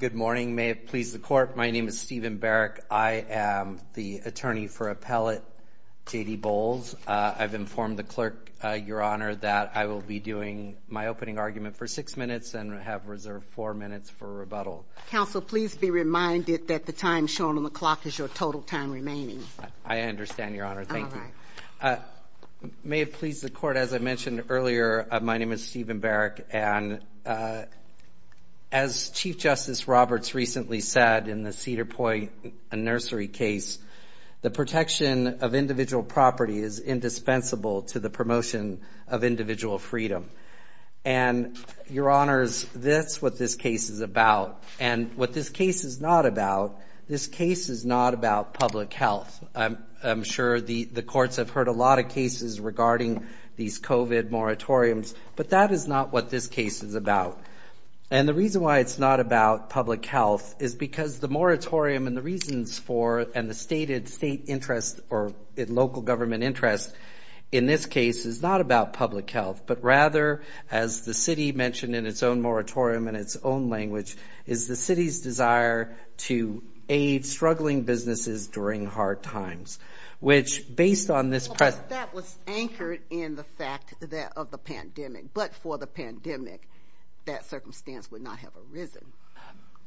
Good morning. May it please the court, my name is Stephen Barrick. I am the attorney for appellate J.D. Bols. I've informed the clerk, your honor, that I will be doing my opening argument for six minutes and have reserved four minutes for rebuttal. Counsel, please be reminded that the time shown on the clock is your total time remaining. I understand, your honor. Thank you. May it please the court, as I mentioned earlier, my name is Stephen Barrick. And as Chief Justice Roberts recently said in the Cedar Point nursery case, the protection of individual property is indispensable to the promotion of individual freedom. And your honors, that's what this case is about. And what this case is not about, this case is not about public health. I'm sure the courts have heard a lot of cases regarding these COVID moratoriums, but that is not what this case is about. And the reason why it's not about public health is because the moratorium and the reasons for and the stated state interest or local government interest in this case is not about public health, but rather, as the city mentioned in its own moratorium and its own language, is the city's desire to aid struggling businesses during hard times, which based on this press, that was anchored in the fact that of the pandemic, but for the pandemic, that circumstance would not have arisen.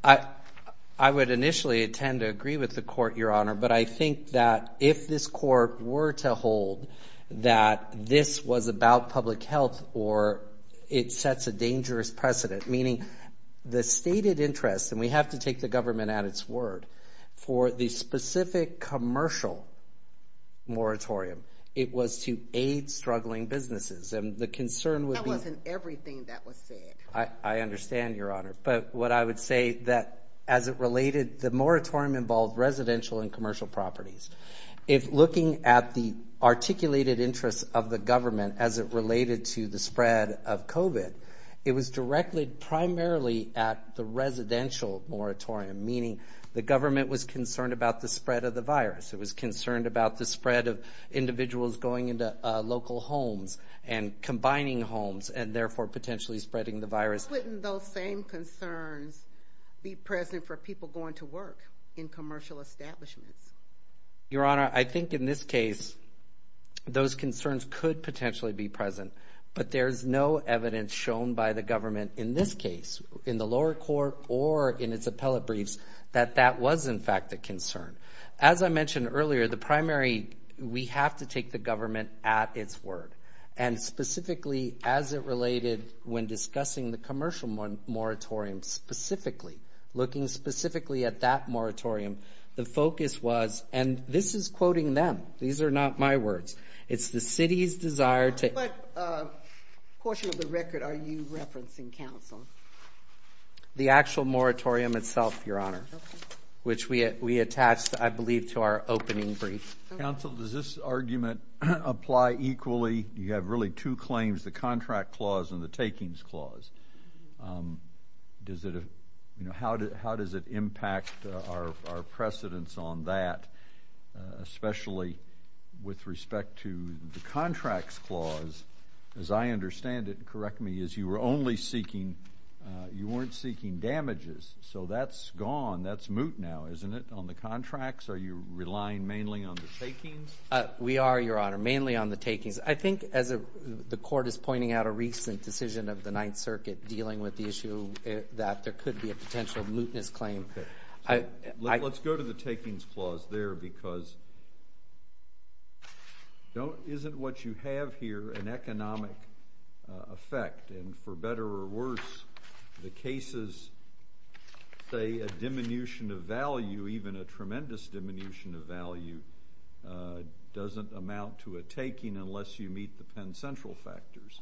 I would initially attend to agree with the court, your honor. But I think that if this court were to hold that this was about public health, or it sets a dangerous precedent, meaning the stated interest, and we have to take the government at its word, for the specific commercial moratorium, it was to aid struggling businesses. And the concern would be... That wasn't everything that was said. I understand, your honor. But what I would say that as it related, the moratorium involved residential and commercial properties. If looking at the articulated interests of the government as it related to the spread of COVID, it was directly primarily at the residential moratorium, meaning the government was concerned about the spread of the virus. It was concerned about the spread of individuals going into local homes and combining homes and therefore potentially spreading the virus. Wouldn't those same concerns be present for people going to work in commercial establishments? Your honor, I think in this case, those concerns could potentially be present, but there's no evidence shown by the government in this case, in the lower court or in its appellate briefs, that that was in fact a concern. As I mentioned earlier, the primary, we have to take the government at its word. And specifically as it related when discussing the commercial moratorium specifically, looking specifically at that moratorium, the focus was, and this is a portion of the record, are you referencing, counsel? The actual moratorium itself, your honor, which we attached, I believe, to our opening brief. Counsel, does this argument apply equally? You have really two claims, the contract clause and the takings clause. How does it impact our precedence on that, especially with respect to the contracts clause, as I understand it, correct me, as you were only seeking, you weren't seeking damages. So that's gone, that's moot now, isn't it, on the contracts? Are you relying mainly on the takings? We are, your honor, mainly on the takings. I think as the court is pointing out a recent decision of the Ninth Circuit dealing with the issue that there could be a potential mootness claim. Let's go to the takings clause there because it isn't what you have here, an economic effect. And for better or worse, the cases say a diminution of value, even a tremendous diminution of value, doesn't amount to a taking unless you meet the Penn Central factors.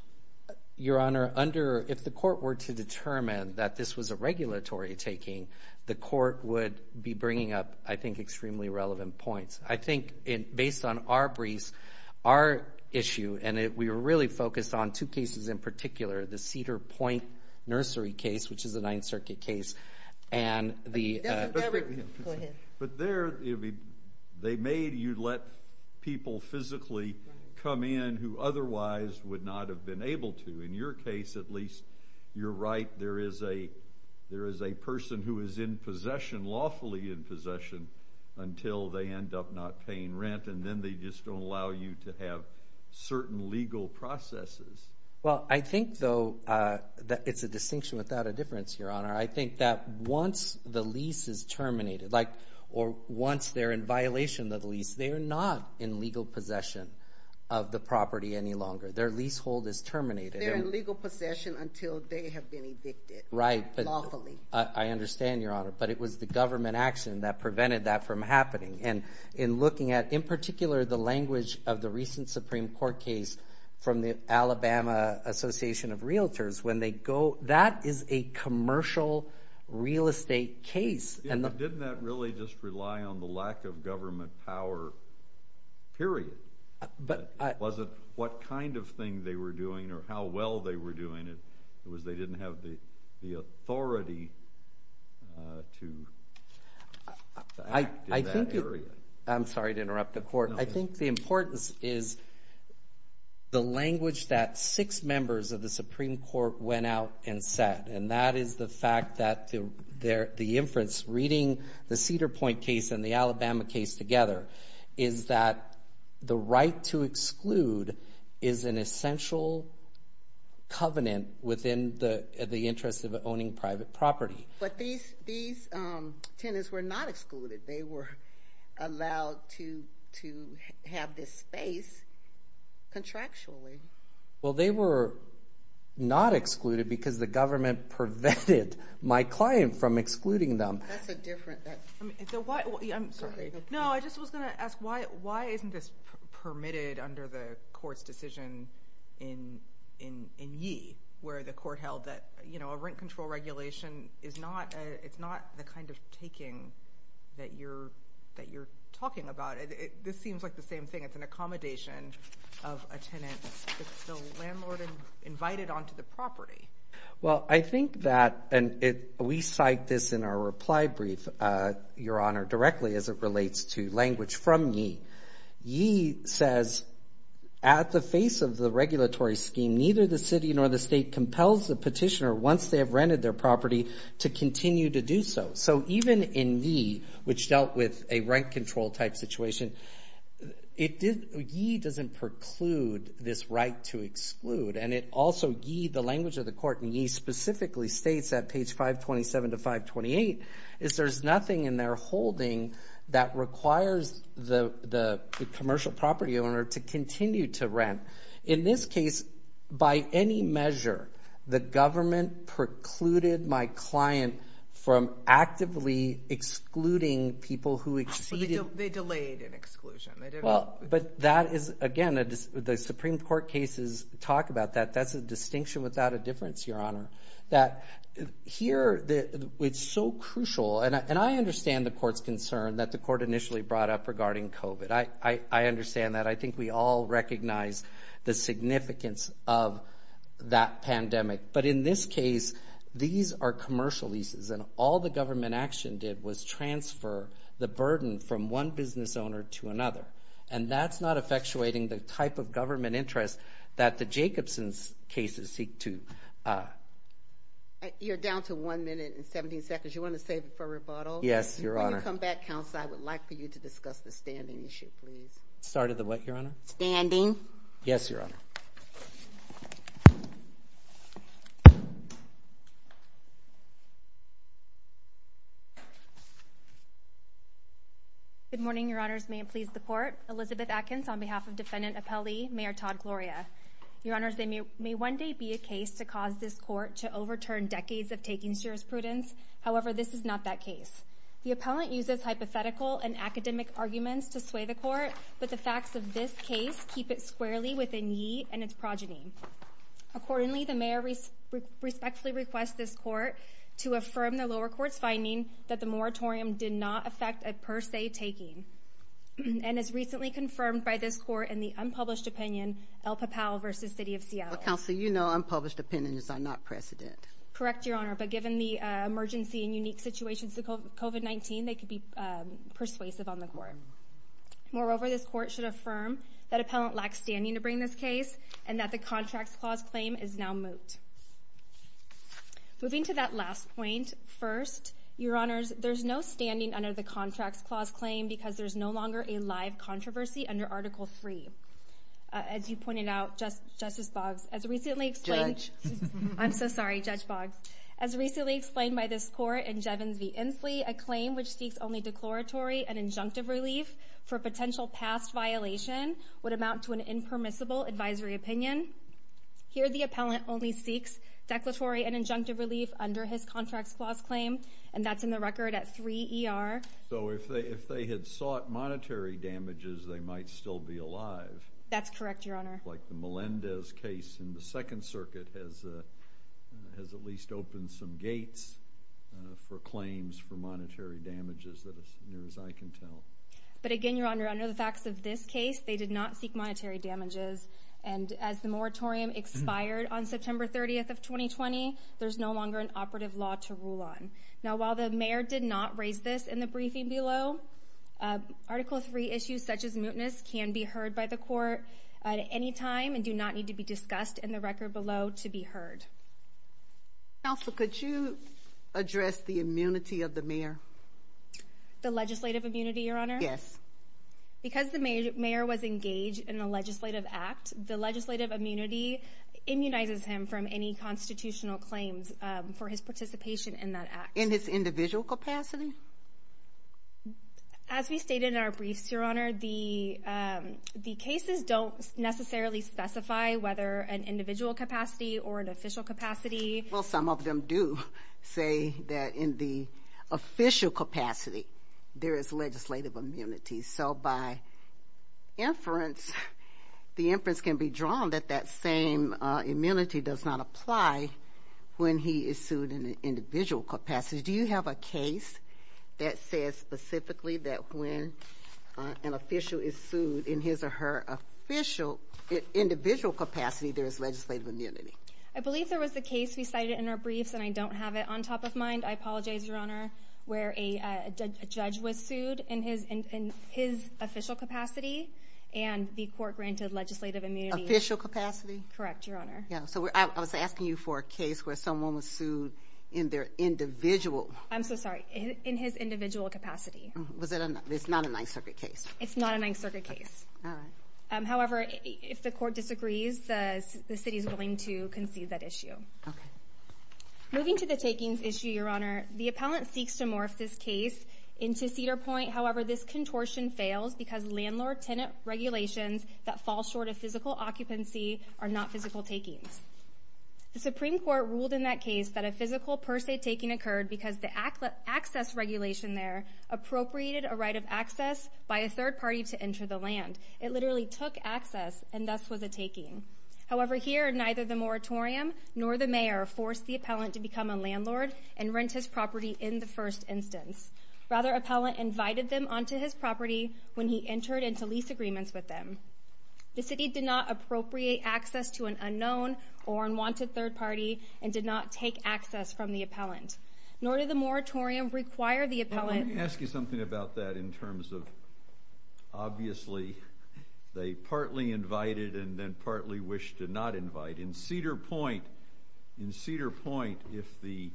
Your honor, if the court were to determine that this was a regulatory taking, the court would be bringing up, I think, extremely relevant points. I think based on our briefs, our issue, and we were really focused on two cases in particular, the Cedar Point Nursery case, which is a Ninth Circuit case. But there, they made you let people physically come in who otherwise would not have been able to. In your case, at least, you're right, there is a person who is in possession, lawfully in possession, until they end up not paying rent, and then they just don't allow you to have certain legal processes. Well, I think, though, that it's a distinction without a difference, your honor. I think that once the lease is terminated, like, or once they're in violation of the lease, they're not in legal possession of the property any longer. Their leasehold is terminated. They're in legal possession until they have been evicted. Right. Lawfully. I understand, your honor. But it was the government action that prevented that from happening. And in looking at, in particular, the language of the recent Supreme Court case from the Alabama Association of Realtors, when they go, that is a commercial real estate case. Didn't that really just rely on the lack of government power, period? Was it what kind of thing they were doing, or how well they were doing it? It was they didn't have the authority to act in that area. I'm sorry to interrupt the court. I think the importance is the language that six members of the Supreme Court went out and said. And that is the fact that the inference, reading the Cedar Point case and the Alabama case together, is that the right to exclude is an essential covenant within the interest of owning private property. But these tenants were not excluded. They were allowed to have this space contractually. Well, they were not excluded because the government prevented my client from excluding them. That's a different thing. I'm sorry. No, I just was going to ask, why isn't this permitted under the court's decision in Yee, where the court held that a rent control regulation is not the kind of taking that you're talking about? This seems like the same thing. It's an accommodation of a tenant. It's the landlord invited onto the property. Well, I think that, and we cite this in our reply brief, Your Honor, directly as it relates to language from Yee. Yee says, at the face of the regulatory scheme, neither the city nor the state compels the petitioner, once they have rented their property, to continue to do so. So even in Yee, which dealt with a rent control type situation, Yee doesn't preclude this right to exclude. And it also, Yee, the language of the court in Yee specifically states at page 527 to 528, is there's nothing in their holding that requires the commercial property owner to continue to rent. In this case, by any measure, the government precluded my client from actively excluding people who exceeded. They delayed an exclusion. But that is, again, the Supreme Court cases talk about that. That's distinction without a difference, Your Honor. That here, it's so crucial, and I understand the court's concern that the court initially brought up regarding COVID. I understand that. I think we all recognize the significance of that pandemic. But in this case, these are commercial leases, and all the government action did was transfer the burden from one business owner to another. And that's not effectuating the type of government interest that the Jacobson's cases seek to... You're down to one minute and 17 seconds. You want to save it for rebuttal? Yes, Your Honor. Before you come back, counsel, I would like for you to discuss the standing issue, please. Start of the what, Your Honor? Standing. Yes, Your Honor. Good morning, Your Honors. May it please the court. Elizabeth Atkins on behalf of defendant appellee, Mayor Todd Gloria. Your Honors, there may one day be a case to cause this court to overturn decades of taking jurisprudence. However, this is not that case. The appellant uses hypothetical and academic arguments to sway the court, but the facts of this case keep it squarely within ye and its progeny. Accordingly, the mayor respectfully request this court to affirm the lower court's finding that the moratorium did not affect a per se taking, and as recently confirmed by this court in the unpublished opinion, El Papal versus City of Seattle. Counsel, you know unpublished opinions are not precedent. Correct, Your Honor. But given the emergency and unique situations of COVID-19, they could be persuasive on the court. Moreover, this court should affirm that appellant lacks standing to bring this case and that the Contracts Clause claim is now moot. Moving to that last point, first, Your Honors, there's no standing under the Contracts Clause claim because there's no longer a live controversy under Article 3. As you pointed out, Justice Boggs, as recently explained... Judge. I'm so sorry, Judge Boggs. As recently explained by this court in Jevons v. Inslee, a claim which seeks only declaratory and injunctive relief for potential past violation would amount to an impermissible advisory opinion. Here, the appellant only seeks declaratory and injunctive relief under his Contracts Clause claim, and that's in the record at 3 ER. So if they had sought monetary damages, they might still be alive. That's correct, Your Honor. Like the Melendez case in the Second But again, Your Honor, under the facts of this case, they did not seek monetary damages, and as the moratorium expired on September 30th of 2020, there's no longer an operative law to rule on. Now, while the mayor did not raise this in the briefing below, Article 3 issues such as mootness can be heard by the court at any time and do not need to be discussed in the record below to be heard. Counselor, could you address the immunity of the mayor? The legislative immunity, Your Honor? Yes. Because the mayor was engaged in a legislative act, the legislative immunity immunizes him from any constitutional claims for his participation in that act. In his individual capacity? As we stated in our briefs, Your Honor, the cases don't necessarily specify whether an official capacity. Well, some of them do say that in the official capacity, there is legislative immunity. So by inference, the inference can be drawn that that same immunity does not apply when he is sued in an individual capacity. Do you have a case that says specifically that when an official is sued in his or her official individual capacity, there is legislative immunity? I believe there was a case we cited in our briefs and I don't have it on top of mind. I apologize, Your Honor, where a judge was sued in his in his official capacity and the court granted legislative immunity. Official capacity? Correct, Your Honor. Yeah, so I was asking you for a case where someone was sued in their individual. I'm so sorry, in his individual capacity. Was it? It's not a Ninth Circuit case. It's not a Ninth Circuit case. However, if the court granted legislative immunity, it's not a Ninth Circuit case, it's not a Ninth Circuit case. So I'm sorry, Your Honor, I'm not going to concede that issue. Okay, moving to the takings issue, Your Honor, the appellant seeks to morph this case into Cedar Point. However, this contortion fails because landlord-tenant regulations that fall short of physical occupancy are not physical takings. The Supreme Court ruled in that case that a physical per se taking occurred because the neither the moratorium nor the mayor forced the appellant to become a landlord and rent his property in the first instance. Rather, appellant invited them onto his property when he entered into lease agreements with them. The city did not appropriate access to an unknown or unwanted third party and did not take access from the appellant, nor did the moratorium require the appellant... Let me ask you something about that in terms of, obviously, they partly invited and then Cedar Point. In Cedar Point, if the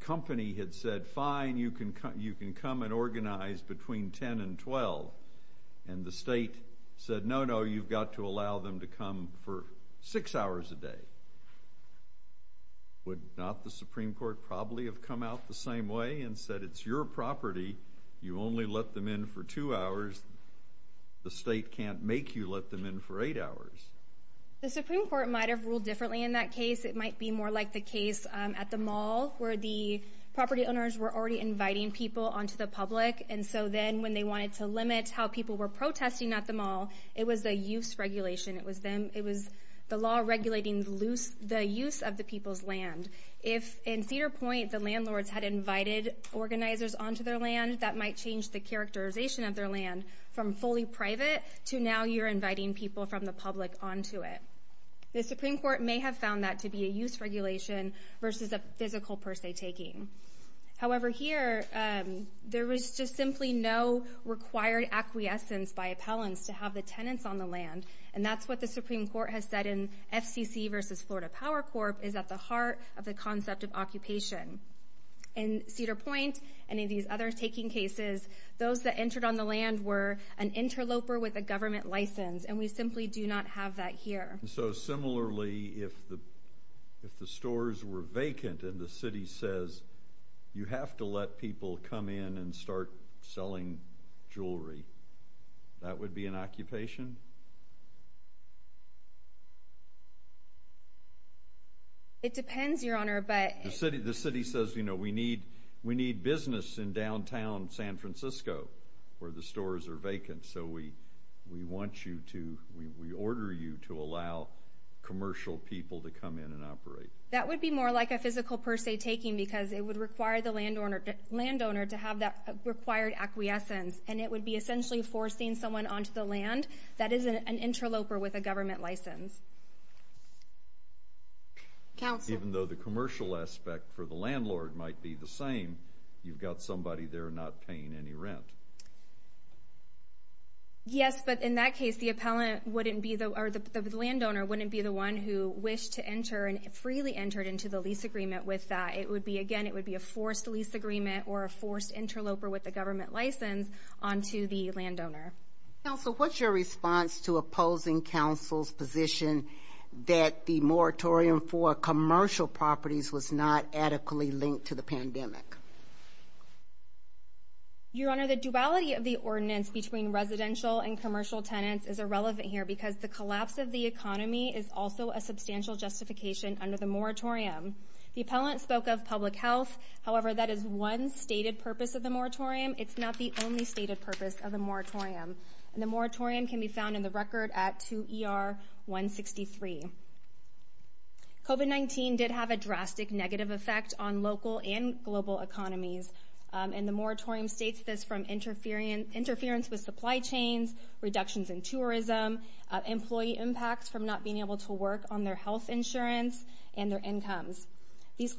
company had said, fine, you can come and organize between 10 and 12, and the state said, no, no, you've got to allow them to come for six hours a day, would not the Supreme Court probably have come out the same way and said, it's your property, you only let them in for two hours, the state can't make you let them in for eight hours? The Supreme Court might have ruled differently in that case. It might be more like the case at the mall where the property owners were already inviting people onto the public, and so then when they wanted to limit how people were protesting at the mall, it was the use regulation. It was the law regulating the use of the people's land. If in Cedar Point, the landlords had invited organizers onto their land, that might change the characterization of their land from fully private to now you're inviting people from the public onto it. The Supreme Court may have found that to be a use regulation versus a physical, per se, taking. However, here, there was just simply no required acquiescence by appellants to have the tenants on the land, and that's what the Supreme Court has said in FCC versus Florida Power Corp is at the heart of the concept of occupation. In Cedar Point and in these other taking cases, those that entered on the land were an interloper with a government license, and we simply do not have that here. So similarly, if the stores were vacant and the city says you have to let people come in and start selling jewelry, that would be an occupation? It depends, Your Honor, but... The city says, you know, we need business in downtown San Francisco where the stores are vacant, so we order you to allow commercial people to come in and operate. That would be more like a physical, per se, taking because it would require the landowner to have that required acquiescence, and it would be essentially forcing someone onto the land that is an interloper with a government license. Even though the commercial aspect for the landlord might be the same, you've got somebody there not paying any rent. Yes, but in that case, the landowner wouldn't be the one who wished to enter and freely entered into the lease agreement with that. It would be, again, it would be a forced lease agreement or a forced interloper with the government license onto the landowner. Counsel, what's your response to opposing counsel's position that the moratorium for commercial properties was not adequately linked to the pandemic? Your Honor, the duality of the ordinance between residential and commercial tenants is irrelevant here because the collapse of the economy is also a substantial justification under the moratorium. The appellant spoke of public health. However, that is one stated purpose of the moratorium. It's not the only stated purpose of the moratorium, and the moratorium can be found in the record at 2ER163. COVID-19 did have a drastic negative effect on local and global economies, and the moratorium states this from interference with supply chains, reductions in tourism, employee impacts from not being able to work on their health insurance, and their incomes. These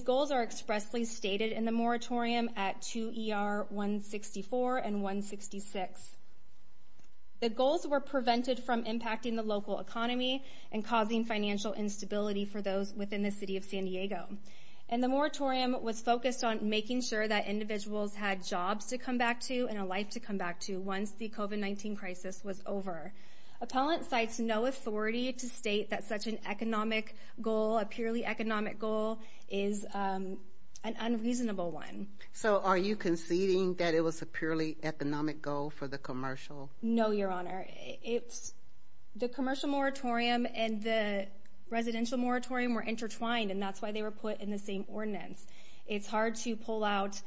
goals are expressly stated in the moratorium at 2ER164 and 166. The goals were prevented from impacting the local economy and causing financial instability for those within the city of San Diego, and the moratorium was focused on making sure that individuals had jobs to come back to and a life to come back to once the COVID-19 crisis was over. Appellant cites no authority to state that such an economic goal, a purely economic goal, is an unreasonable one. So are you conceding that it was a purely economic goal for the commercial? No, your honor. It's the commercial moratorium and the residential moratorium were intertwined, and that's why they were put in the same ordinance. It's hard to pull out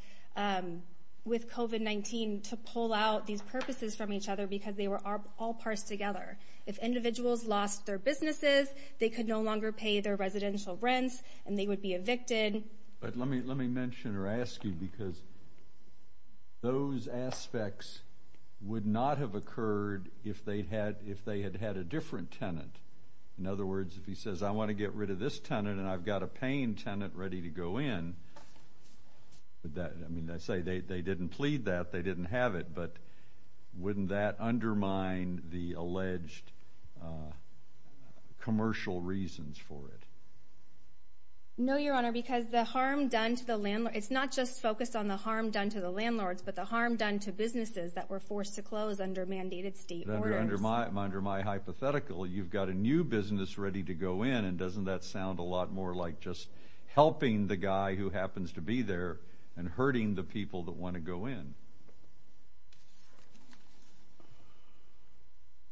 with COVID-19 to pull out these purposes from each other because they were all parsed together. If individuals lost their businesses, they could no longer pay their residential rents, and they would be evicted. But let me mention or ask you, because those aspects would not have occurred if they had had a different tenant. In other words, if he says, I want to get rid of this tenant and I've got a paying tenant ready to go in, I mean, they didn't plead that, they didn't have it, but wouldn't that undermine the alleged commercial reasons for it? No, your honor, because the harm done to the landlord, it's not just focused on the harm done to the landlords, but the harm done to businesses that were forced to close under mandated state orders. Under my hypothetical, you've got a new business ready to go in, and doesn't that sound a lot more like just helping the guy who happens to be there and hurting the people that want to go in?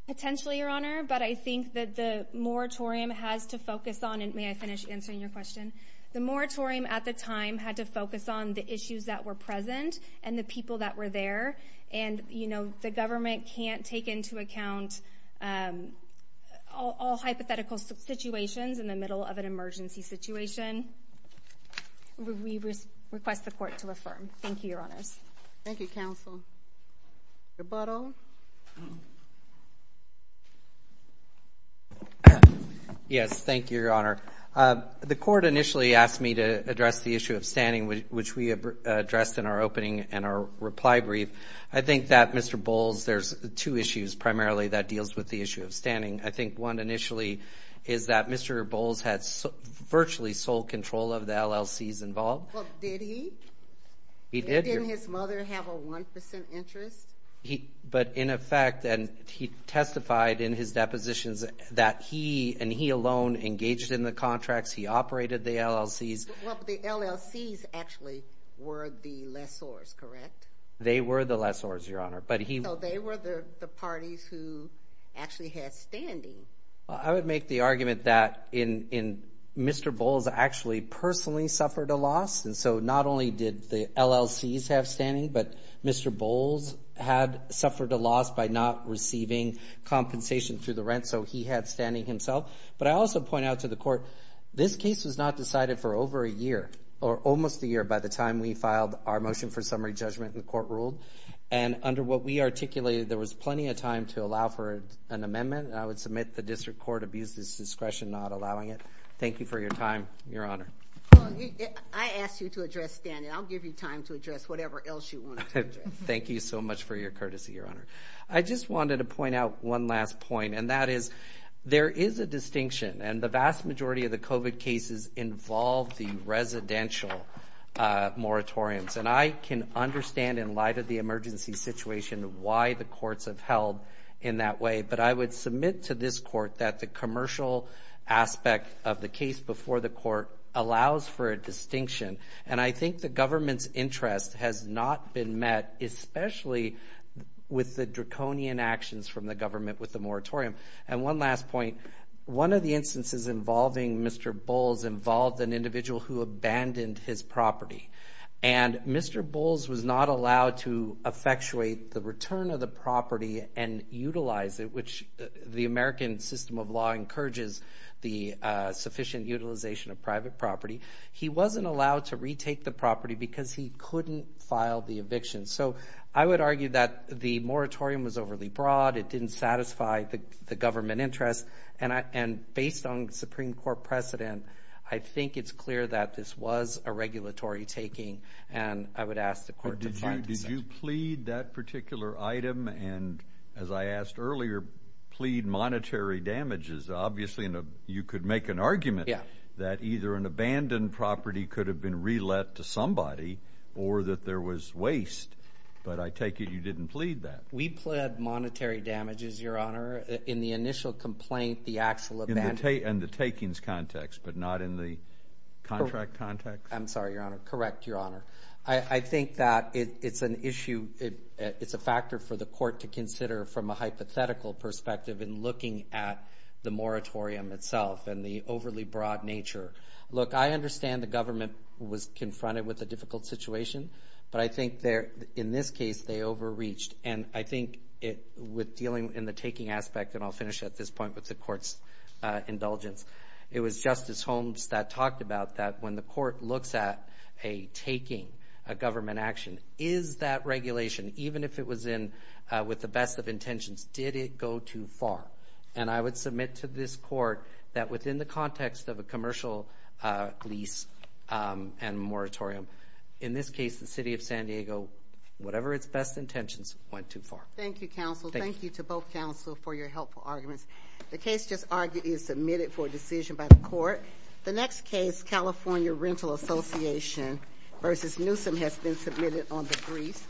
Potentially, your honor, but I think that the moratorium has to focus on may I finish answering your question? The moratorium at the time had to focus on the issues that were present and the people that were there, and the government can't take into account all hypothetical situations in the middle of an emergency situation. We request the court to affirm. Thank you, your honors. Thank you, counsel. Mr. Buttle. Yes, thank you, your honor. The court initially asked me to address the issue of standing, which we addressed in our opening and our reply brief. I think that, Mr. Bowles, there's two issues primarily that deals with the issue of standing. I think one initially is that Mr. Bowles had virtually sole control of the LLCs involved. Well, did he? He did. Didn't his mother have a 1% interest? But in effect, and he testified in his depositions that he and he alone engaged in the contracts, he operated the LLCs. Well, the LLCs actually were the lessors, correct? They were the lessors, your honor. So they were the parties who actually had standing. Well, I would make the argument that Mr. Bowles actually personally suffered a loss, and so not only did the LLCs have standing, but Mr. Bowles had suffered a loss by not receiving compensation through the rent, so he had standing himself. But I also point out to the court, this case was not decided for over a year, or almost a year by the time we filed our motion for summary judgment and the court ruled. And under what we articulated, there was plenty of time to allow for an amendment, and I would submit the district court abused its discretion not allowing it. Thank you for your time, your honor. I asked you to address standing. I'll give you time to address whatever else you want. Thank you so much for your courtesy, your honor. I just wanted to point out one last point, and that is there is a distinction, and the vast majority of the COVID cases involve the residential moratoriums. And I can understand in light of the emergency situation why the courts have held in that way, but I would submit to this court that the commercial aspect of the case before the court allows for a distinction, and I think the government's interest has not been met, especially with the draconian actions from the government with the moratorium. And one last point, one of the instances involving Mr. Bowles involved an individual who abandoned his property, and Mr. Bowles was not allowed to effectuate the return of the property and utilize it, which the American system of law encourages the sufficient utilization of private property. He wasn't allowed to retake the property because he couldn't file the eviction. So I would argue that the moratorium was overly broad. It didn't satisfy the government interest, and based on the Supreme Court precedent, I think it's clear that this was a regulatory taking, and I would ask the court to find... Did you plead that particular item and, as I asked earlier, plead monetary damages? Obviously, you could make an argument that either an abandoned property could have been re-let to somebody or that there was waste, but I take it you didn't plead that. We pled monetary damages, Your Honor. In the initial complaint, the actual... In the takings context, but not in the contract context? I'm sorry, Your Honor. Correct, Your Honor. I think that it's an issue... It's a factor for the court to consider from a hypothetical perspective in looking at the moratorium itself and the overly broad nature. Look, I understand the government was confronted with a difficult situation, but I think in this case, they overreached. And I think with dealing in the taking aspect, and I'll finish at this point with the court's indulgence, it was Justice Holmes that talked about that when the court looks at a taking, a government action, is that regulation, even if it was in with the best of intentions, did it go too far? And I would submit to this court that within the context of a commercial lease and moratorium, in this case, the City of San Diego, whatever its best intentions, went too far. Thank you, counsel. Thank you to both counsel for your helpful arguments. The case just argued is submitted for decision by the court. The next case, California Rental Association v. Newsom, has been submitted on the brief.